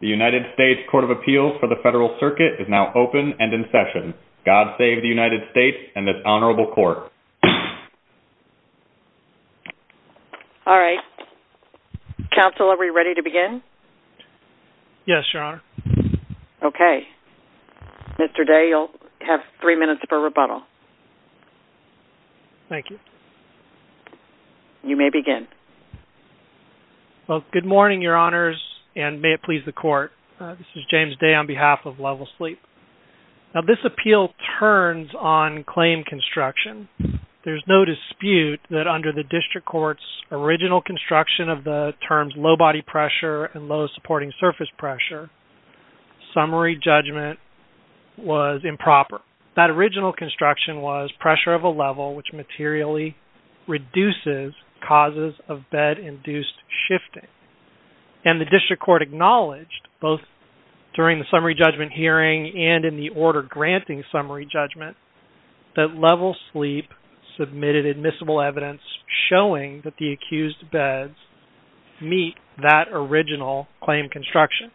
The United States Court of Appeals for the Federal Circuit is now open and in session. God Save the United States and this Honorable Court. Alright. Counsel, are we ready to begin? Yes, Your Honor. Okay. Mr. Day, you'll have three minutes for rebuttal. Thank you. You may begin. Well, good morning, Your Honors, and may it please the Court. This is James Day on behalf of Level Sleep. Now, this appeal turns on claim construction. There's no dispute that under the district court's original construction of the terms low body pressure and low supporting surface pressure, summary judgment was improper. That original construction was pressure of a level which materially reduces causes of bed-induced shifting. And the district court acknowledged, both during the summary judgment hearing and in the order granting summary judgment, that Level Sleep submitted admissible evidence showing that the accused beds meet that original claim construction.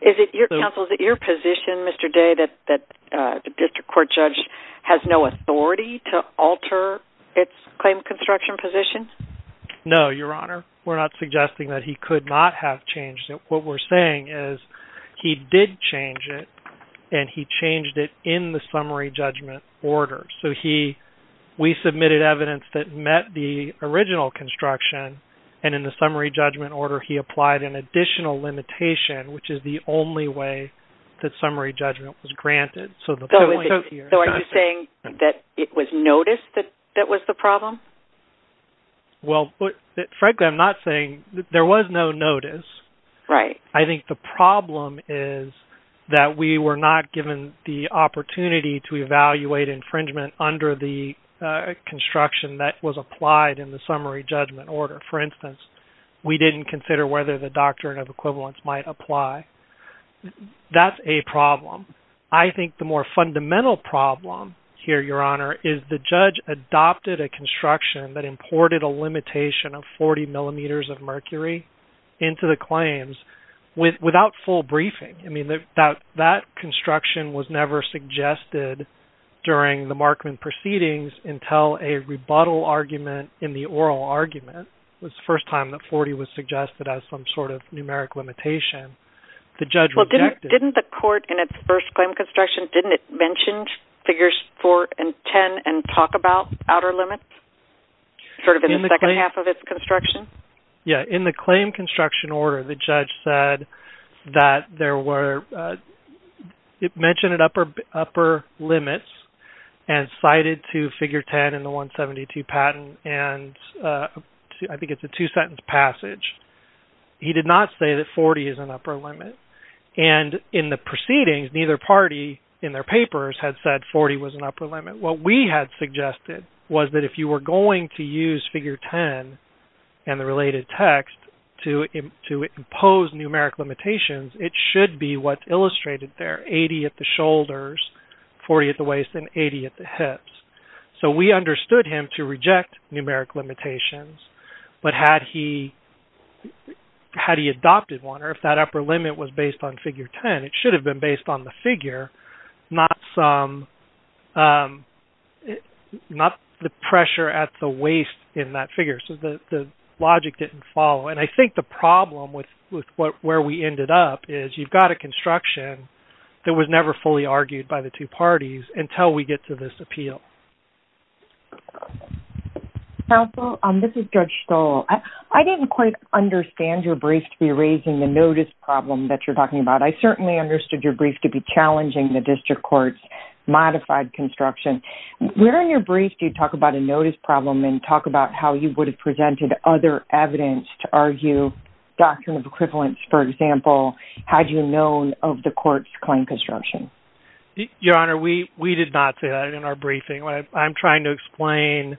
Counsel, is it your position, Mr. Day, that the district court judge has no authority to alter its claim construction position? No, Your Honor. We're not suggesting that he could not have changed it. What we're saying is he did change it and he changed it in the summary judgment order. So, we submitted evidence that met the original construction, and in the summary judgment order, he applied an additional limitation, which is the only way that summary judgment was granted. So, are you saying that it was noticed that that was the problem? Well, frankly, I'm not saying-there was no notice. I think the problem is that we were not given the opportunity to evaluate infringement under the construction that was applied in the summary judgment order. For instance, we didn't consider whether the doctrine of equivalence might apply. That's a problem. I think the more fundamental problem here, Your Honor, is the judge adopted a construction that imported a limitation of 40 millimeters of mercury into the claims without full briefing. I mean, that construction was never suggested during the Markman proceedings until a rebuttal argument in the oral argument. It was the first time that 40 was suggested as some sort of numeric limitation. Well, didn't the court, in its first claim construction, didn't it mention figures 4 and 10 and talk about outer limits, sort of in the second half of its construction? Yeah. In the claim construction order, the judge said that there were-it mentioned upper limits and cited to figure 10 in the 172 patent, and I think it's a two-sentence passage. He did not say that 40 is an upper limit, and in the proceedings, neither party in their papers had said 40 was an upper limit. What we had suggested was that if you were going to use figure 10 and the related text to impose numeric limitations, it should be what's illustrated there-80 at the shoulders, 40 at the waist, and 80 at the hips. So we understood him to reject numeric limitations, but had he adopted one, or if that upper limit was based on figure 10, it should have been based on the figure, not the pressure at the waist in that figure. So the logic didn't follow, and I think the problem with where we ended up is you've got a construction that was never fully argued by the two parties until we get to this appeal. Counsel, this is Judge Stoll. I didn't quite understand your brief to be raising the notice problem that you're talking about. I certainly understood your brief to be challenging the district court's modified construction. Where in your brief do you talk about a notice problem and talk about how you would have presented other evidence to argue doctrine of equivalence? For example, had you known of the court's claim construction? Your Honor, we did not say that in our briefing. I'm trying to explain,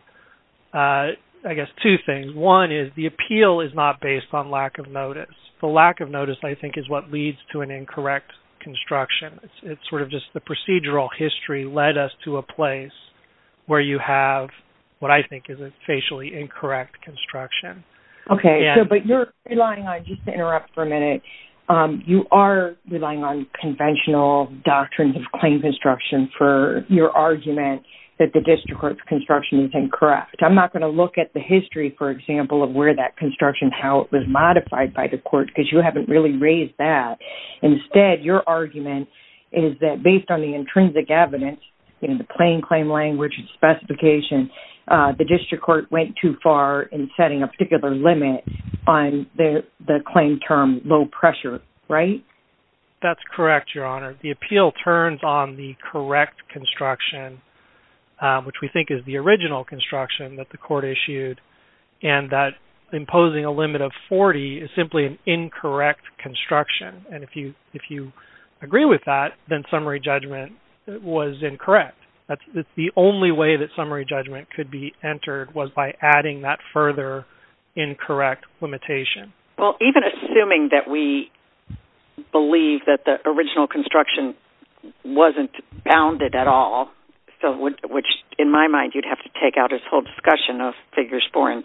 I guess, two things. One is the appeal is not based on lack of notice. The lack of notice, I think, is what leads to an incorrect construction. It's sort of just the procedural history led us to a place where you have what I think is a facially incorrect construction. Okay, but you're relying on, just to interrupt for a minute, you are relying on conventional doctrines of claim construction for your argument that the district court's construction is incorrect. I'm not going to look at the history, for example, of where that construction, how it was modified by the court because you haven't really raised that. Instead, your argument is that based on the intrinsic evidence in the plain claim language and specification, the district court went too far in setting a particular limit on the claim term low pressure, right? That's correct, Your Honor. The appeal turns on the correct construction, which we think is the original construction that the court issued, and that imposing a limit of 40 is simply an incorrect construction. If you agree with that, then summary judgment was incorrect. The only way that summary judgment could be entered was by adding that further incorrect limitation. Well, even assuming that we believe that the original construction wasn't bounded at all, which in my mind you'd have to take out this whole discussion of figures 4 and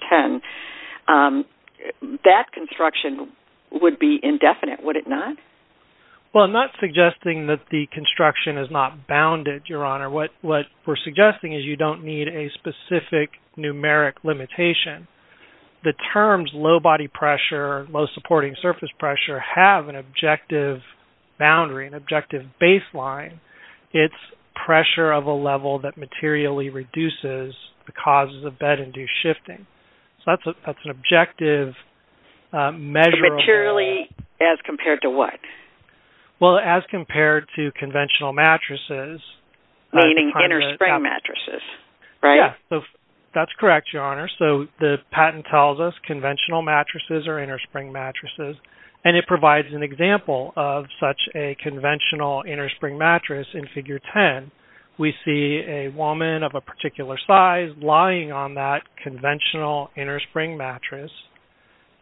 10, that construction would be indefinite, would it not? Well, I'm not suggesting that the construction is not bounded, Your Honor. What we're suggesting is you don't need a specific numeric limitation. The terms low body pressure, low supporting surface pressure have an objective boundary, an objective baseline. It's pressure of a level that materially reduces the causes of bed-induced shifting. So that's an objective measure of- Materially as compared to what? Well, as compared to conventional mattresses- Meaning innerspring mattresses, right? That's correct, Your Honor. So the patent tells us conventional mattresses are innerspring mattresses, and it provides an example of such a conventional innerspring mattress in figure 10. We see a woman of a particular size lying on that conventional innerspring mattress.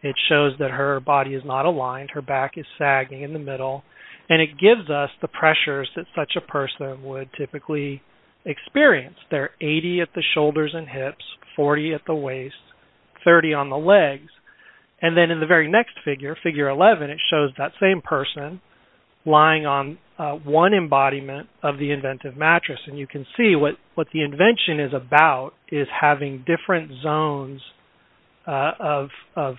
It shows that her body is not aligned, her back is sagging in the middle, and it gives us the pressures that such a person would typically experience. They're 80 at the shoulders and hips, 40 at the waist, 30 on the legs. And then in the very next figure, figure 11, it shows that same person lying on one embodiment of the inventive mattress. And you can see what the invention is about is having different zones of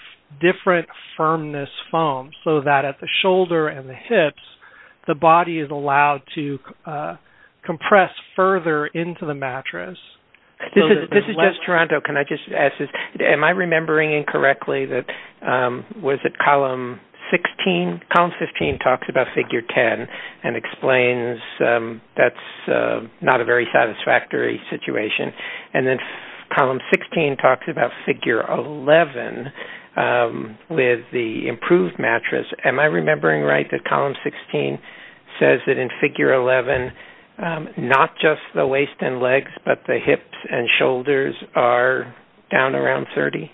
different firmness foam so that at the shoulder and the hips, the body is allowed to compress further into the mattress. This is just Toronto. Can I just ask this? Am I remembering incorrectly that was it column 16? Column 15 talks about figure 10 and explains that's not a very satisfactory situation. And then column 16 talks about figure 11 with the improved mattress. Am I remembering right that column 16 says that in figure 11, not just the waist and legs, but the hips and shoulders are down around 30?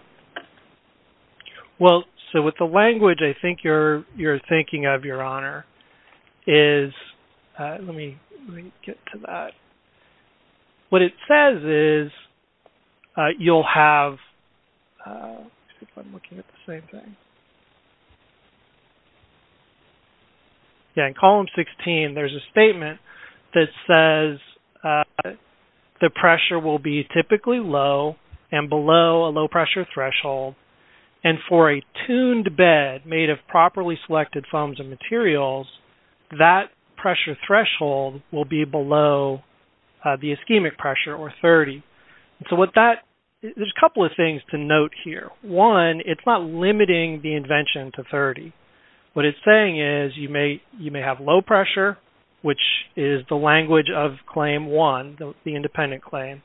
Well, so with the language, I think you're thinking of, Your Honor, is-let me get to that. What it says is you'll have-let's see if I'm looking at the same thing. Yeah, in column 16, there's a statement that says the pressure will be typically low and below a low pressure threshold. And for a tuned bed made of properly selected foams and materials, that pressure threshold will be below the ischemic pressure or 30. So with that, there's a couple of things to note here. One, it's not limiting the invention to 30. What it's saying is you may have low pressure, which is the language of claim one, the independent claim.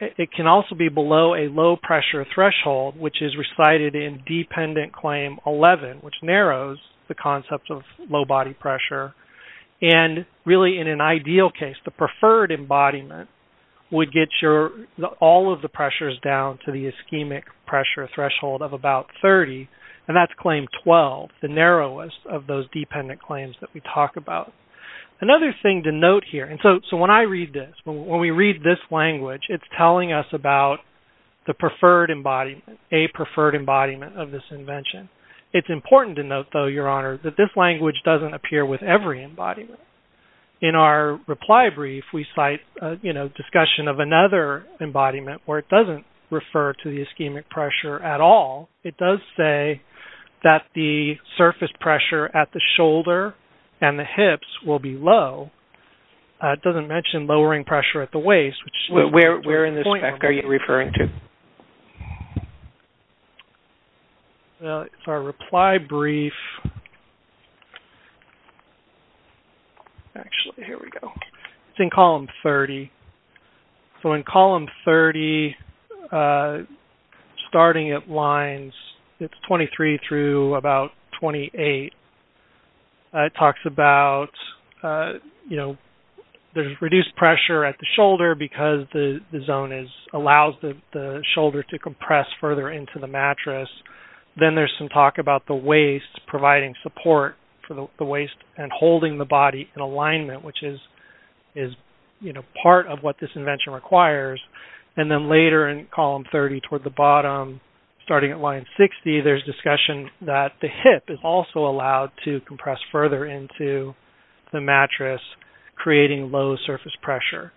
It can also be below a low pressure threshold, which is recited in dependent claim 11, which narrows the concept of low body pressure. And really, in an ideal case, the preferred embodiment would get all of the pressures down to the ischemic pressure threshold of about 30. And that's claim 12, the narrowest of those dependent claims that we talk about. Another thing to note here-and so when I read this, when we read this language, it's telling us about the preferred embodiment, a preferred embodiment of this invention. It's important to note, though, Your Honor, that this language doesn't appear with every embodiment. In our reply brief, we cite discussion of another embodiment where it doesn't refer to the ischemic pressure at all. It does say that the surface pressure at the shoulder and the hips will be low. It doesn't mention lowering pressure at the waist. Where in this spec are you referring to? It's our reply brief. Actually, here we go. It's in column 30. So in column 30, starting at lines 23 through about 28, it talks about there's reduced pressure at the shoulder because the zone allows the shoulder to compress further into the mattress. Then there's some talk about the waist providing support for the waist and holding the body in alignment, which is part of what this invention requires. And then later in column 30 toward the bottom, starting at line 60, there's discussion that the hip is also allowed to compress further into the mattress, creating low surface pressure.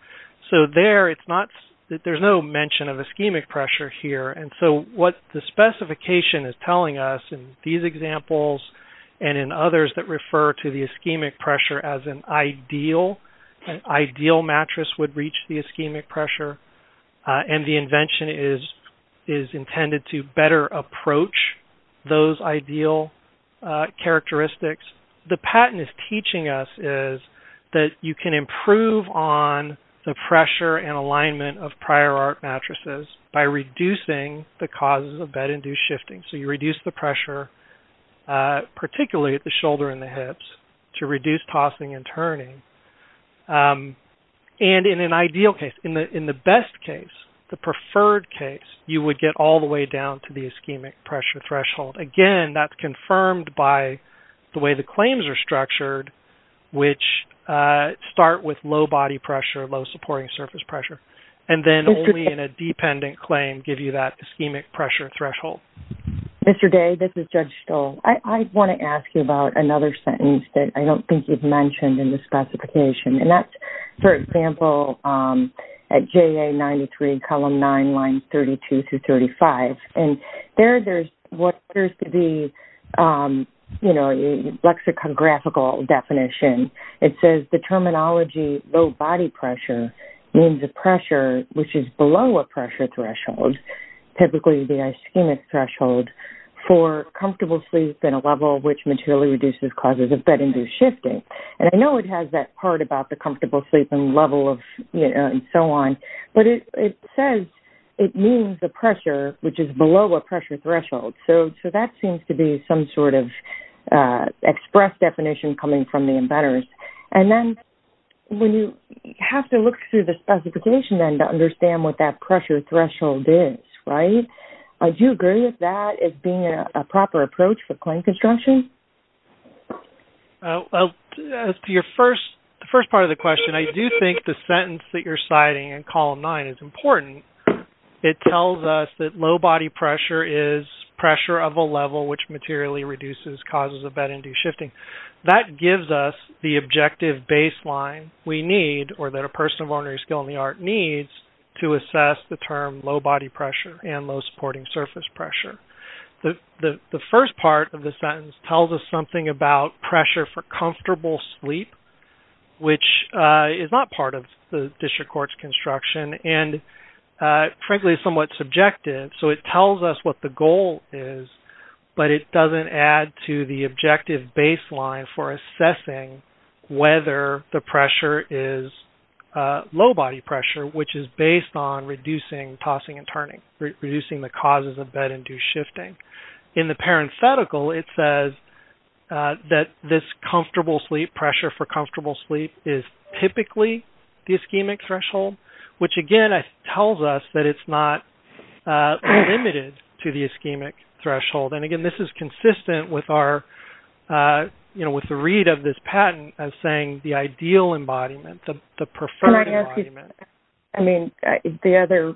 So there, it's not that there's no mention of ischemic pressure here. And so what the specification is telling us in these examples and in others that refer to the ischemic pressure as an ideal mattress would reach the ischemic pressure, and the invention is intended to better approach those ideal characteristics. The patent is teaching us is that you can improve on the pressure and alignment of prior art mattresses by reducing the causes of bed-induced shifting. So you reduce the pressure, particularly at the shoulder and the hips, to reduce tossing and turning. And in an ideal case, in the best case, the preferred case, you would get all the way down to the ischemic pressure threshold. Again, that's confirmed by the way the claims are structured, which start with low body pressure, low supporting surface pressure, and then only in a dependent claim give you that ischemic pressure threshold. Mr. Day, this is Judge Stoll. I want to ask you about another sentence that I don't think you've mentioned in the specification. And that's, for example, at JA93, column 9, lines 32 through 35. And there there's what appears to be a lexicographical definition. It says the terminology low body pressure means a pressure which is below a pressure threshold, typically the ischemic threshold, for comfortable sleep and a level which materially reduces causes of bed-induced shifting. And I know it has that part about the comfortable sleep and level and so on, but it says it means a pressure which is below a pressure threshold. So that seems to be some sort of express definition coming from the embedders. And then when you have to look through the specification then to understand what that pressure threshold is, right, do you agree with that as being a proper approach for claim construction? As to your first part of the question, I do think the sentence that you're citing in column 9 is important. It tells us that low body pressure is pressure of a level which materially reduces causes of bed-induced shifting. That gives us the objective baseline we need, or that a person of ordinary skill in the art needs, to assess the term low body pressure and low supporting surface pressure. The first part of the sentence tells us something about pressure for comfortable sleep, which is not part of the district court's construction and frankly is somewhat subjective. So it tells us what the goal is, but it doesn't add to the objective baseline for assessing whether the pressure is low body pressure, which is based on reducing tossing and turning, reducing the causes of bed-induced shifting. In the parenthetical, it says that this pressure for comfortable sleep is typically the ischemic threshold, which again tells us that it's not limited to the ischemic threshold. And again, this is consistent with the read of this patent as saying the ideal embodiment, the preferred embodiment. I mean, I understand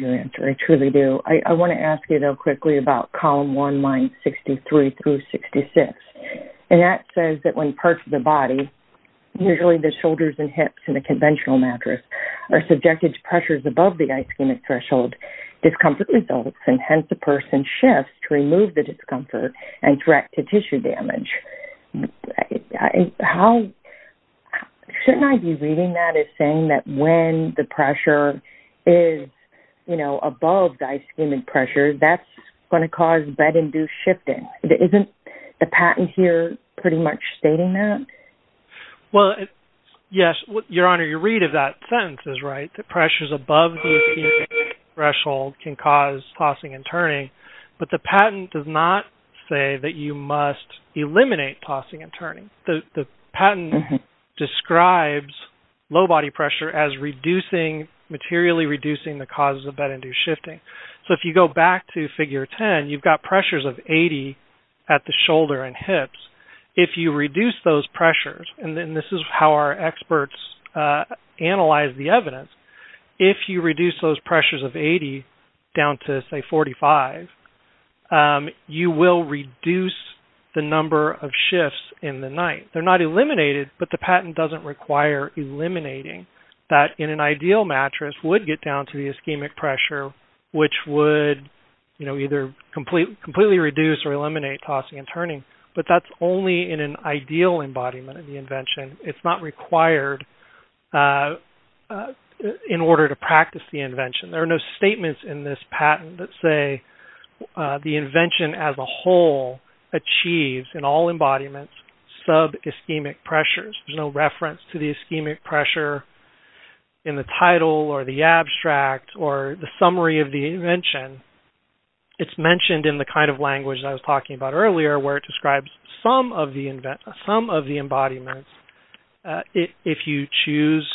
your answer. I truly do. I want to ask you though quickly about column 1, lines 63 through 66. And that says that when parts of the body, usually the shoulders and hips and the conventional mattress, are subjected to pressures above the ischemic threshold, discomfort results and hence the person shifts to remove the discomfort and direct to tissue damage. Shouldn't I be reading that as saying that when the pressure is above the ischemic pressure, that's going to cause bed-induced shifting? Isn't the patent here pretty much stating that? Well, yes. Your Honor, your read of that sentence is right. The pressures above the ischemic threshold can cause tossing and turning. But the patent does not say that you must eliminate tossing and turning. The patent describes low body pressure as reducing, materially reducing the causes of bed-induced shifting. So if you go back to figure 10, you've got pressures of 80 at the shoulder and hips. If you reduce those pressures, and this is how our experts analyze the evidence, if you reduce those pressures of 80 down to say 45, you will reduce the number of shifts in the night. They're not eliminated, but the patent doesn't require eliminating that in an ideal mattress would get down to the ischemic pressure, which would either completely reduce or eliminate tossing and turning. But that's only in an ideal embodiment of the invention. It's not required in order to practice the invention. There are no statements in this patent that say the invention as a whole achieves, in all embodiments, sub-ischemic pressures. There's no reference to the ischemic pressure in the title or the abstract or the summary of the invention. It's mentioned in the kind of language that I was talking about earlier, where it describes some of the embodiments. If you choose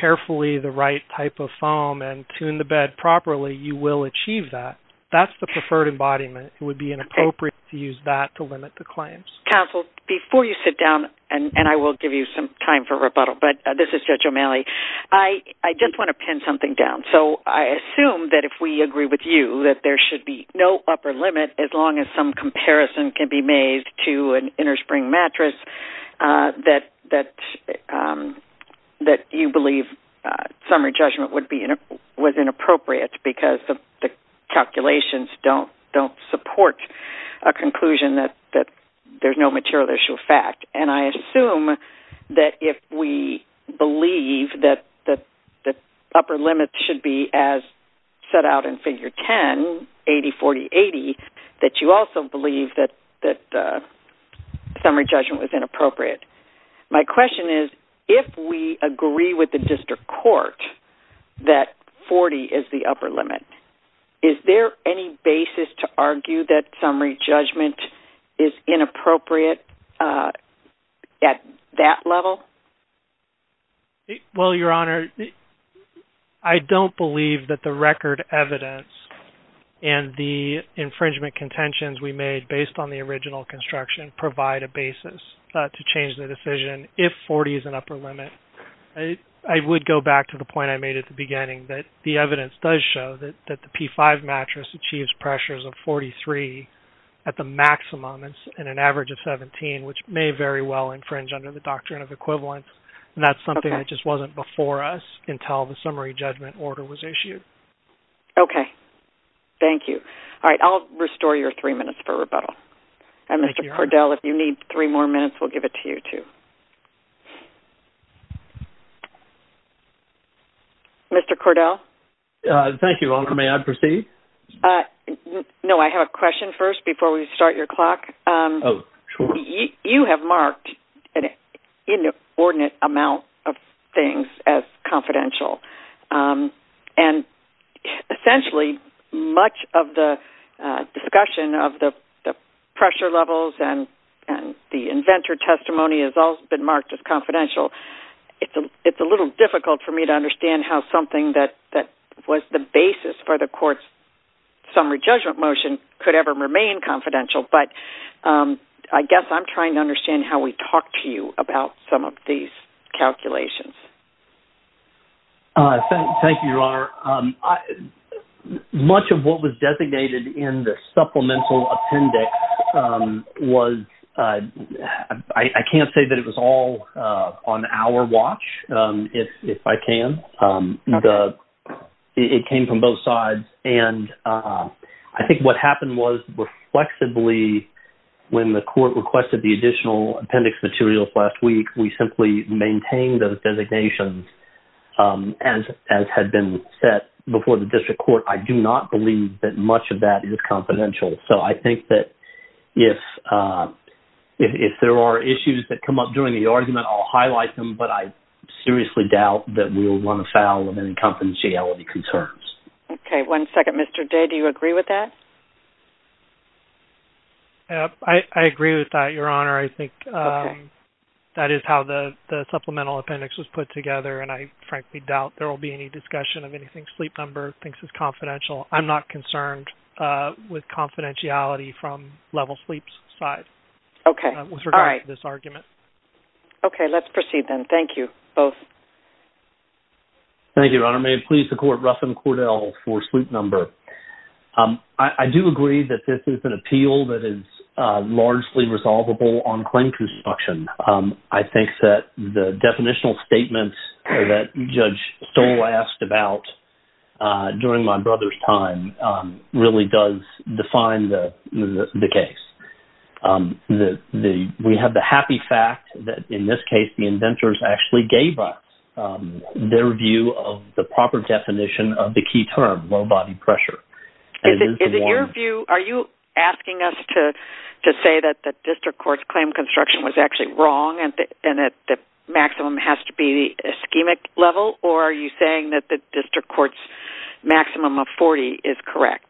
carefully the right type of foam and tune the bed properly, you will achieve that. That's the preferred embodiment. It would be inappropriate to use that to limit the claims. Counsel, before you sit down, and I will give you some time for rebuttal, but this is Judge O'Malley. I just want to pin something down. So I assume that if we agree with you that there should be no upper limit as long as some comparison can be made to an innerspring mattress that you believe summary judgment was inappropriate because the calculations don't support a conclusion that there's no upper limit. There's no material issue of fact. And I assume that if we believe that the upper limit should be as set out in Figure 10, 80-40-80, that you also believe that summary judgment was inappropriate. My question is, if we agree with the district court that 40 is the upper limit, is there any basis to argue that summary judgment is inappropriate at that level? Well, Your Honor, I don't believe that the record evidence and the infringement contentions we made based on the original construction provide a basis to change the decision if 40 is an upper limit. I would go back to the point I made at the beginning that the evidence does show that the P-5 mattress achieves pressures of 43 at the maximum and an average of 17, which may very well infringe under the doctrine of equivalence. And that's something that just wasn't before us until the summary judgment order was issued. Okay. Thank you. All right. I'll restore your three minutes for rebuttal. And Mr. Cordell, if you need three more minutes, we'll give it to you, too. Mr. Cordell? Thank you, Your Honor. May I proceed? No, I have a question first before we start your clock. You have marked an inordinate amount of things as confidential. And essentially, much of the discussion of the pressure levels and the inventor testimony has all been marked as confidential. It's a little difficult for me to understand how something that was the basis for the court's summary judgment motion could ever remain confidential, but I guess I'm trying to understand how we talk to you about some of these calculations. Thank you, Your Honor. Much of what was designated in the supplemental appendix was – I can't say that it was all on our watch, if I can. It came from both sides. And I think what happened was, reflexively, when the court requested the additional appendix materials last week, we simply maintained those designations as had been set before the district court. I do not believe that much of that is confidential. So I think that if there are issues that come up during the argument, I'll highlight them, but I seriously doubt that we'll run afoul of any confidentiality concerns. Okay. One second. Mr. Day, do you agree with that? I agree with that, Your Honor. I think that is how the supplemental appendix was put together, and I frankly doubt there will be any discussion of anything Sleep Number thinks is confidential. I'm not concerned with confidentiality from Level Sleep's side with regard to this argument. Okay. Let's proceed then. Thank you, both. Thank you, Your Honor. May it please the Court, Ruffin Cordell for Sleep Number. I do agree that this is an appeal that is largely resolvable on claim construction. I think that the definitional statements that Judge Stoll asked about during my brother's time really does define the case. We have the happy fact that, in this case, the inventors actually gave us their view of the proper definition of the key term, low body pressure. Is it your view? Are you asking us to say that the district court's claim construction was actually wrong and that the maximum has to be the ischemic level, or are you saying that the district court's maximum of 40 is correct?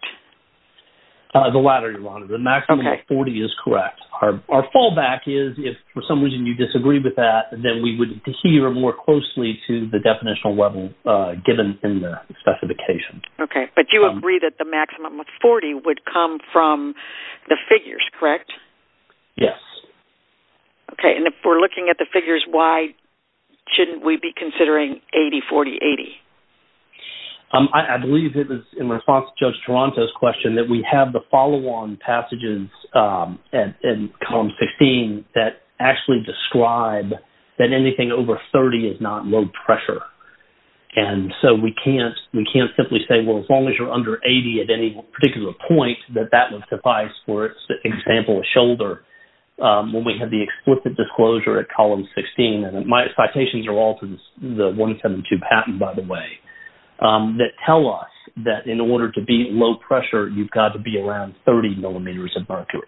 The latter, Your Honor. The maximum of 40 is correct. Our fallback is, if for some reason you disagree with that, then we would adhere more closely to the definitional level given in the specification. Okay. But you agree that the maximum of 40 would come from the figures, correct? Yes. Okay. And if we're looking at the figures, why shouldn't we be considering 80-40-80? I believe it was in response to Judge Toronto's question that we have the follow-on passages in Column 16 that actually describe that anything over 30 is not low pressure. And so we can't simply say, well, as long as you're under 80 at any particular point, that that would suffice. For example, a shoulder. When we have the explicit disclosure at Column 16, and my citations are all to the 172 patent, by the way, that tell us that in order to be low pressure, you've got to be around 30 millimeters of mercury.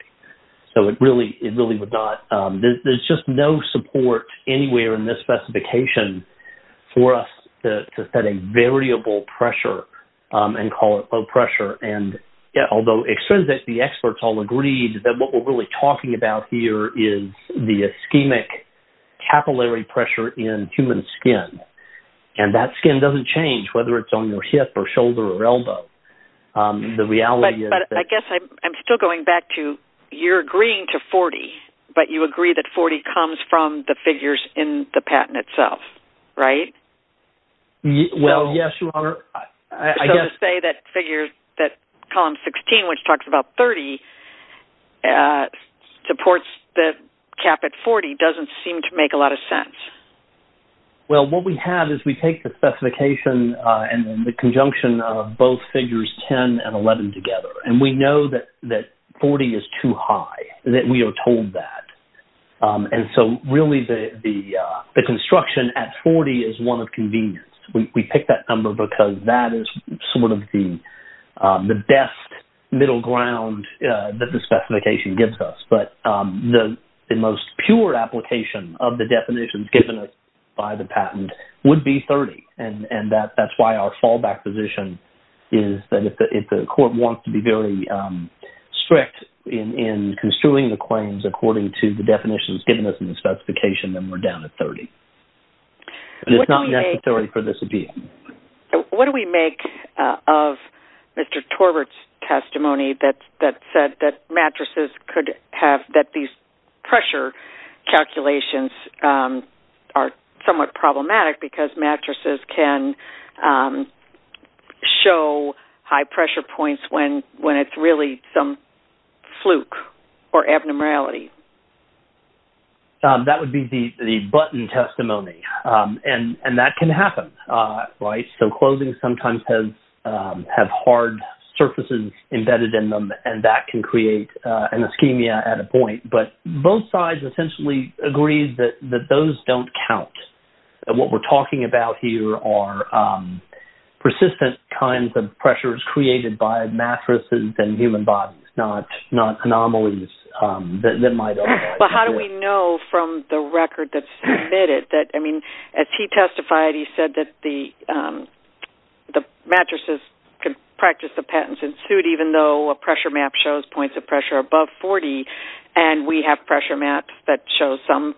So, it really would not. There's just no support anywhere in this specification for us to set a variable pressure and call it low pressure. Although it says that the experts all agreed that what we're really talking about here is the ischemic capillary pressure in human skin. And that skin doesn't change whether it's on your hip or shoulder or elbow. But I guess I'm still going back to, you're agreeing to 40, but you agree that 40 comes from the figures in the patent itself, right? Well, yes, Your Honor. So, to say that figures that Column 16, which talks about 30, supports the cap at 40 doesn't seem to make a lot of sense. Well, what we have is we take the specification and the conjunction of both Figures 10 and 11 together, and we know that 40 is too high, that we are told that. And so, really, the construction at 40 is one of convenience. We picked that number because that is sort of the best middle ground that the specification gives us. But the most pure application of the definitions given us by the patent would be 30. And that's why our fallback position is that if the court wants to be very strict in construing the claims according to the definitions given us in the specification, then we're down to 30. And it's not necessary for this to be. What do we make of Mr. Torbert's testimony that said that mattresses could have, that these pressure calculations are somewhat problematic because mattresses can show high pressure points when it's really some fluke or abnormality? That would be the button testimony. And that can happen, right? So, clothing sometimes has hard surfaces embedded in them, and that can create an ischemia at a point. But both sides essentially agree that those don't count. And what we're talking about here are persistent kinds of pressures created by mattresses and human bodies, not anomalies that might arise. But how do we know from the record that's submitted that, I mean, as he testified, he said that the mattresses could practice the patents in suit even though a pressure map shows points of pressure above 40. And we have pressure maps that show some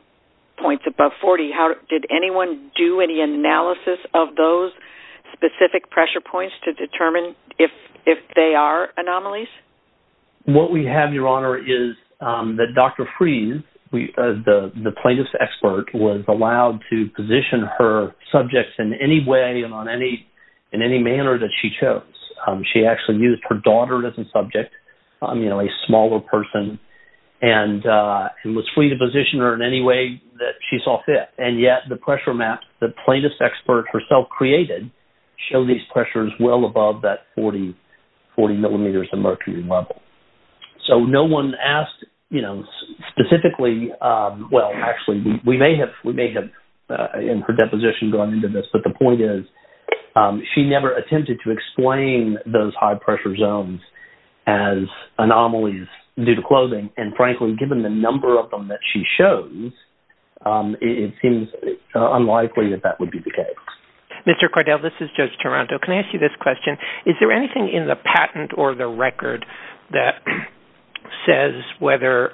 points above 40. Did anyone do any analysis of those specific pressure points to determine if they are anomalies? What we have, Your Honor, is that Dr. Freese, the plaintiff's expert, was allowed to position her subjects in any way and in any manner that she chose. She actually used her daughter as a subject, a smaller person, and was free to position her in any way that she saw fit. And yet, the pressure map the plaintiff's expert herself created showed these pressures well above that 40 millimeters of mercury level. So, no one asked, you know, specifically... Well, actually, we may have, in her deposition, gone into this, but the point is she never attempted to explain those high-pressure zones as anomalies due to clothing. And frankly, given the number of them that she shows, it seems unlikely that that would be the case. Mr. Cordell, this is Judge Toronto. Can I ask you this question? Is there anything in the patent or the record that says whether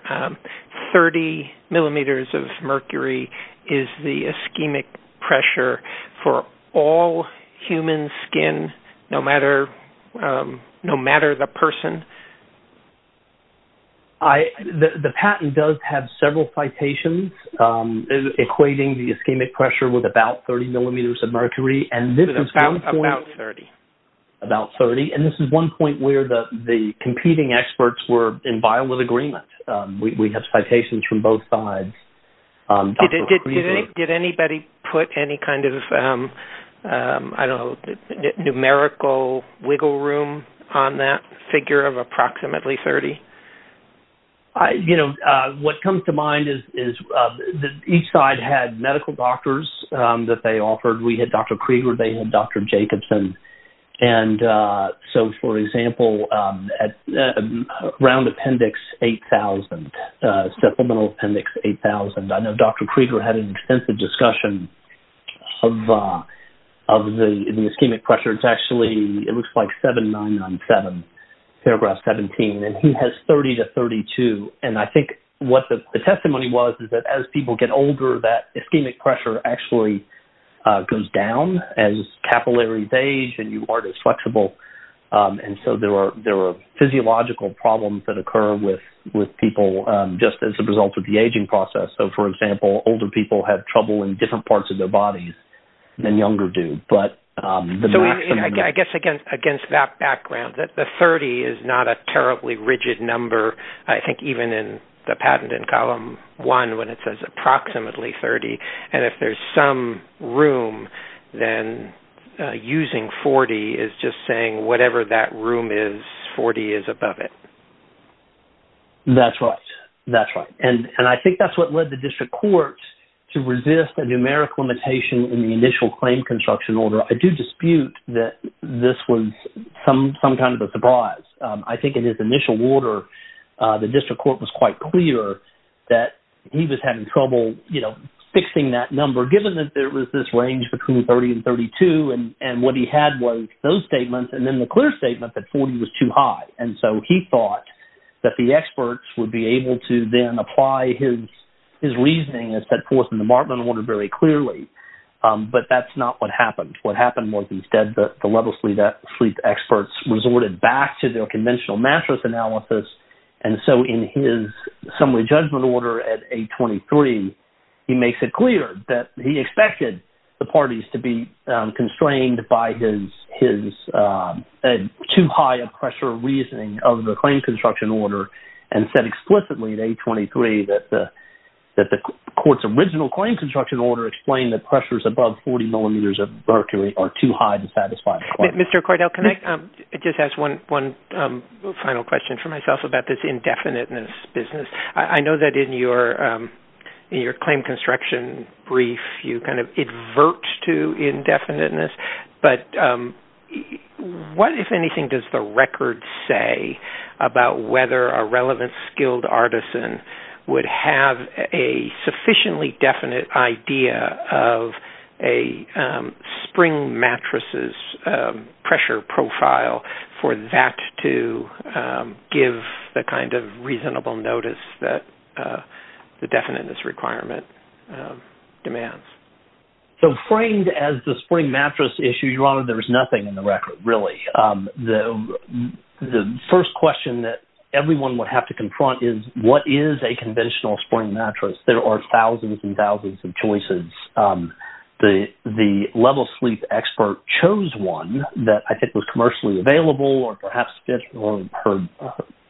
30 millimeters of mercury is the ischemic pressure for all human skin, no matter the person? The patent does have several citations equating the ischemic pressure with about 30 millimeters of mercury. About 30. About 30. And this is one point where the competing experts were in violent agreement. We have citations from both sides. Did anybody put any kind of, I don't know, numerical wiggle room on that figure of approximately 30? You know, what comes to mind is that each side had medical doctors that they offered. We had Dr. Krieger. They had Dr. Jacobson. So, for example, round appendix 8,000, supplemental appendix 8,000. I know Dr. Krieger had an extensive discussion of the ischemic pressure. It's actually, it looks like 7997, paragraph 17, and he has 30 to 32. And I think what the testimony was is that as people get older, that ischemic pressure actually goes down as capillaries age and you aren't as flexible. And so there are physiological problems that occur with people just as a result of the aging process. So, for example, older people have trouble in different parts of their bodies than younger do. So, I guess against that background, the 30 is not a terribly rigid number. I think even in the patent in column one when it says approximately 30, and if there's some room, then using 40 is just saying whatever that room is, 40 is above it. That's right. That's right. And I think that's what led the district court to resist a numeric limitation in the initial claim construction order. I do dispute that this was some kind of a surprise. I think in his initial order, the district court was quite clear that he was having trouble, you know, fixing that number given that there was this range between 30 and 32. And what he had was those statements and then the clear statement that 40 was too high. And so he thought that the experts would be able to then apply his reasoning as set forth in the Martland order very clearly. But that's not what happened. What happened was instead the level sleep experts resorted back to their conventional mattress analysis. And so in his summary judgment order at 823, he makes it clear that he expected the parties to be constrained by his too high a pressure reasoning of the claim construction order. And said explicitly at 823 that the court's original claim construction order explained the pressures above 40 millimeters of mercury are too high to satisfy the claim. Mr. Cordell, can I just ask one final question for myself about this indefiniteness business? I know that in your claim construction brief, you kind of advert to indefiniteness. But what, if anything, does the record say about whether a relevant skilled artisan would have a sufficiently definite idea of a spring mattresses pressure profile for that to give the kind of reasonable notice that the definiteness requirement demands? So framed as the spring mattress issue, your honor, there is nothing in the record, really. The first question that everyone would have to confront is what is a conventional spring mattress? There are thousands and thousands of choices. The level sleep expert chose one that I think was commercially available or perhaps fit for her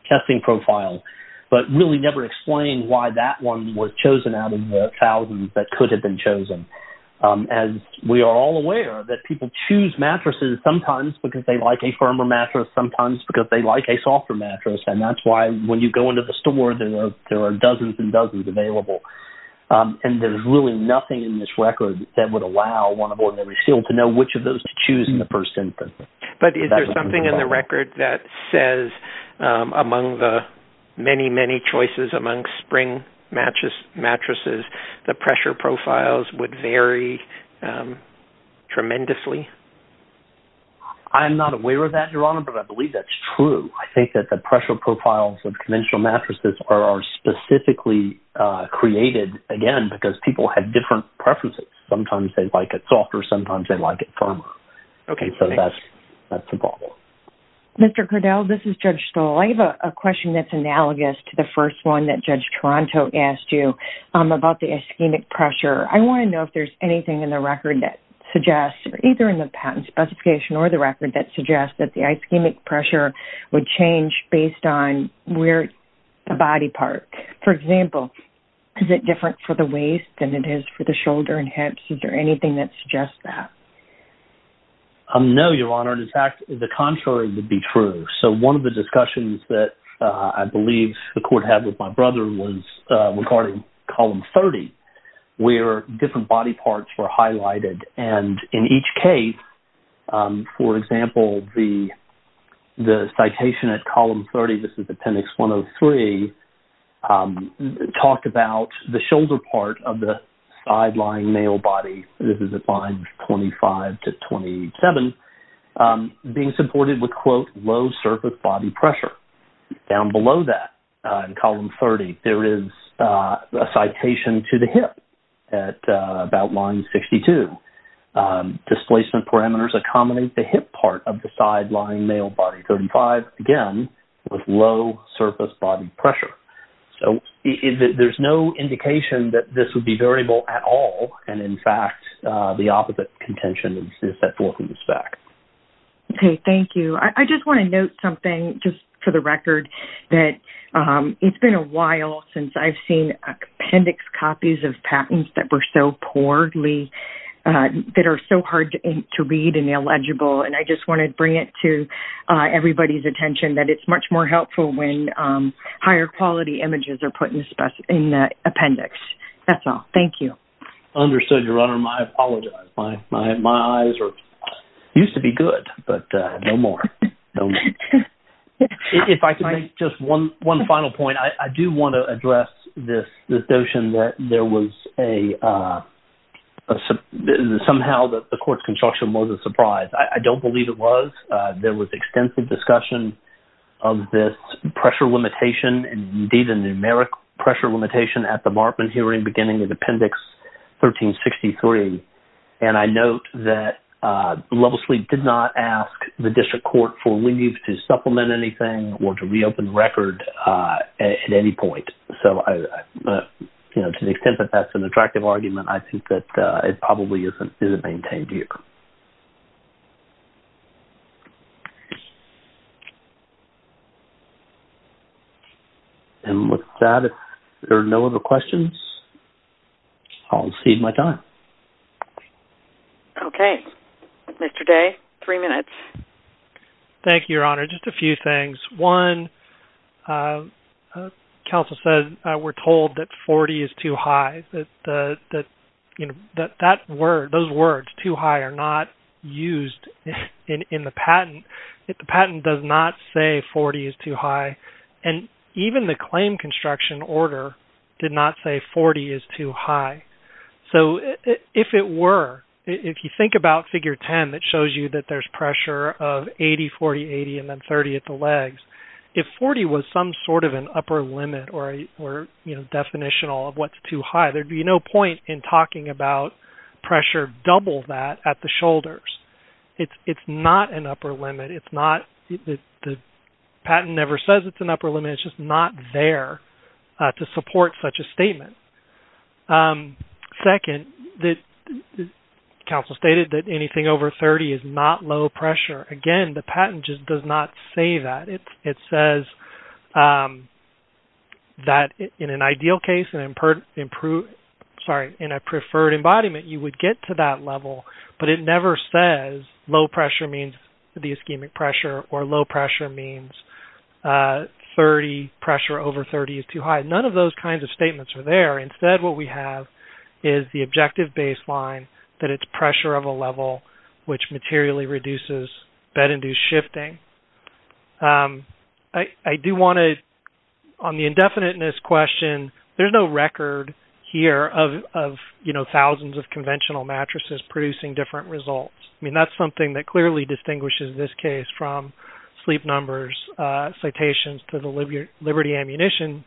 testing profile, but really never explained why that one was chosen out of the thousands that could have been chosen. And we are all aware that people choose mattresses sometimes because they like a firmer mattress, sometimes because they like a softer mattress. And that's why when you go into the store, there are dozens and dozens available. And there's really nothing in this record that would allow one of ordinary skilled to know which of those to choose in the first instance. But is there something in the record that says among the many, many choices among spring mattresses, the pressure profiles would vary tremendously? I'm not aware of that, your honor, but I believe that's true. I think that the pressure profiles of conventional mattresses are specifically created, again, because people have different preferences. Sometimes they like it softer, sometimes they like it firmer. Okay. So that's a problem. Mr. Kurdel, this is Judge Stoll. I have a question that's analogous to the first one that Judge Toronto asked you about the ischemic pressure. I want to know if there's anything in the record that suggests, either in the patent specification or the record, that suggests that the ischemic pressure would change based on where the body part. For example, is it different for the waist than it is for the shoulder and hips? Is there anything that suggests that? No, your honor. In fact, the contrary would be true. So one of the discussions that I believe the court had with my brother was regarding column 30 where different body parts were highlighted. And in each case, for example, the citation at column 30, this is appendix 103, talked about the shoulder part of the side-lying male body. This is at lines 25 to 27, being supported with, quote, low surface body pressure. Down below that in column 30, there is a citation to the hip at about line 62. Displacement parameters accommodate the hip part of the side-lying male body. 35, again, with low surface body pressure. So there's no indication that this would be variable at all. And, in fact, the opposite contention is that 14 is back. Okay, thank you. I just want to note something, just for the record, that it's been a while since I've seen appendix copies of patents that were so poorly, that are so hard to read and illegible. And I just want to bring it to everybody's attention that it's much more helpful when higher quality images are put in the appendix. That's all. Thank you. Understood, Your Honor. I apologize. My eyes used to be good, but no more. If I could make just one final point. I do want to address this notion that there was a – somehow the court's construction was a surprise. I don't believe it was. There was extensive discussion of this pressure limitation and, indeed, a numeric pressure limitation at the Markman hearing beginning with appendix 1363. And I note that Levelsley did not ask the district court for leave to supplement anything or to reopen record at any point. So, you know, to the extent that that's an attractive argument, I think that it probably isn't maintained here. And with that, if there are no other questions, I'll exceed my time. Okay. Mr. Day, three minutes. Thank you, Your Honor. Just a few things. One, counsel said we're told that 40 is too high. Those words, too high, are not used in the patent. The patent does not say 40 is too high. And even the claim construction order did not say 40 is too high. So if it were, if you think about Figure 10, it shows you that there's pressure of 80, 40, 80, and then 30 at the legs. If 40 was some sort of an upper limit or, you know, definitional of what's too high, there'd be no point in talking about pressure double that at the shoulders. It's not an upper limit. It's not-the patent never says it's an upper limit. It's just not there to support such a statement. Second, counsel stated that anything over 30 is not low pressure. Again, the patent just does not say that. It says that in an ideal case, in a preferred embodiment, you would get to that level, but it never says low pressure means the ischemic pressure or low pressure means 30, pressure over 30 is too high. None of those kinds of statements are there. Instead, what we have is the objective baseline that it's pressure of a level which materially reduces bed-induced shifting. I do want to-on the indefiniteness question, there's no record here of, you know, thousands of conventional mattresses producing different results. I mean, that's something that clearly distinguishes this case from sleep numbers, citations to the Liberty Ammunition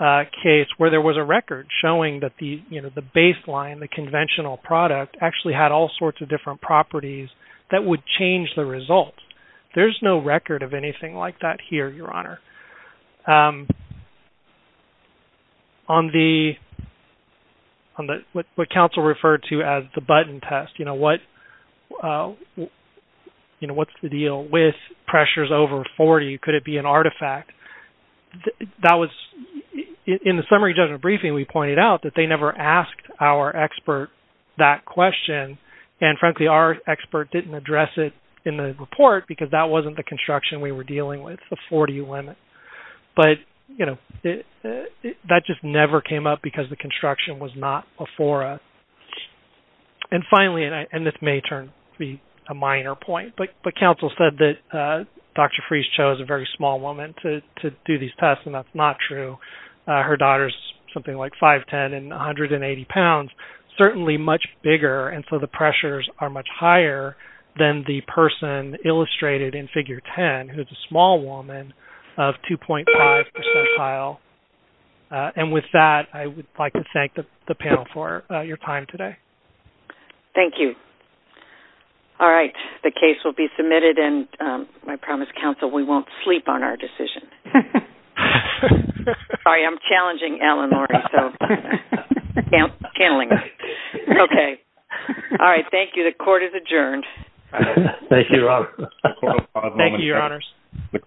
case, where there was a record showing that the, you know, the baseline, the conventional product, actually had all sorts of different properties that would change the results. There's no record of anything like that here, Your Honor. On the-what counsel referred to as the button test, you know, what's the deal with pressures over 40? Could it be an artifact? That was-in the summary judgment briefing, we pointed out that they never asked our expert that question, and frankly, our expert didn't address it in the report because that wasn't the construction we were dealing with, the 40 limit. But, you know, that just never came up because the construction was not before us. And finally, and this may turn to be a minor point, but counsel said that Dr. Freese chose a very small woman to do these tests, and that's not true. Her daughter's something like 5'10 and 180 pounds, certainly much bigger, and so the pressures are much higher than the person illustrated in Figure 10, who's a small woman of 2.5 percentile. And with that, I would like to thank the panel for your time today. Thank you. All right. The case will be submitted, and I promise, counsel, we won't sleep on our decision. Sorry, I'm challenging Alan already, so-candling me. Okay. All right. Thank you. The court is adjourned. Thank you, Your Honor. Thank you, Your Honors.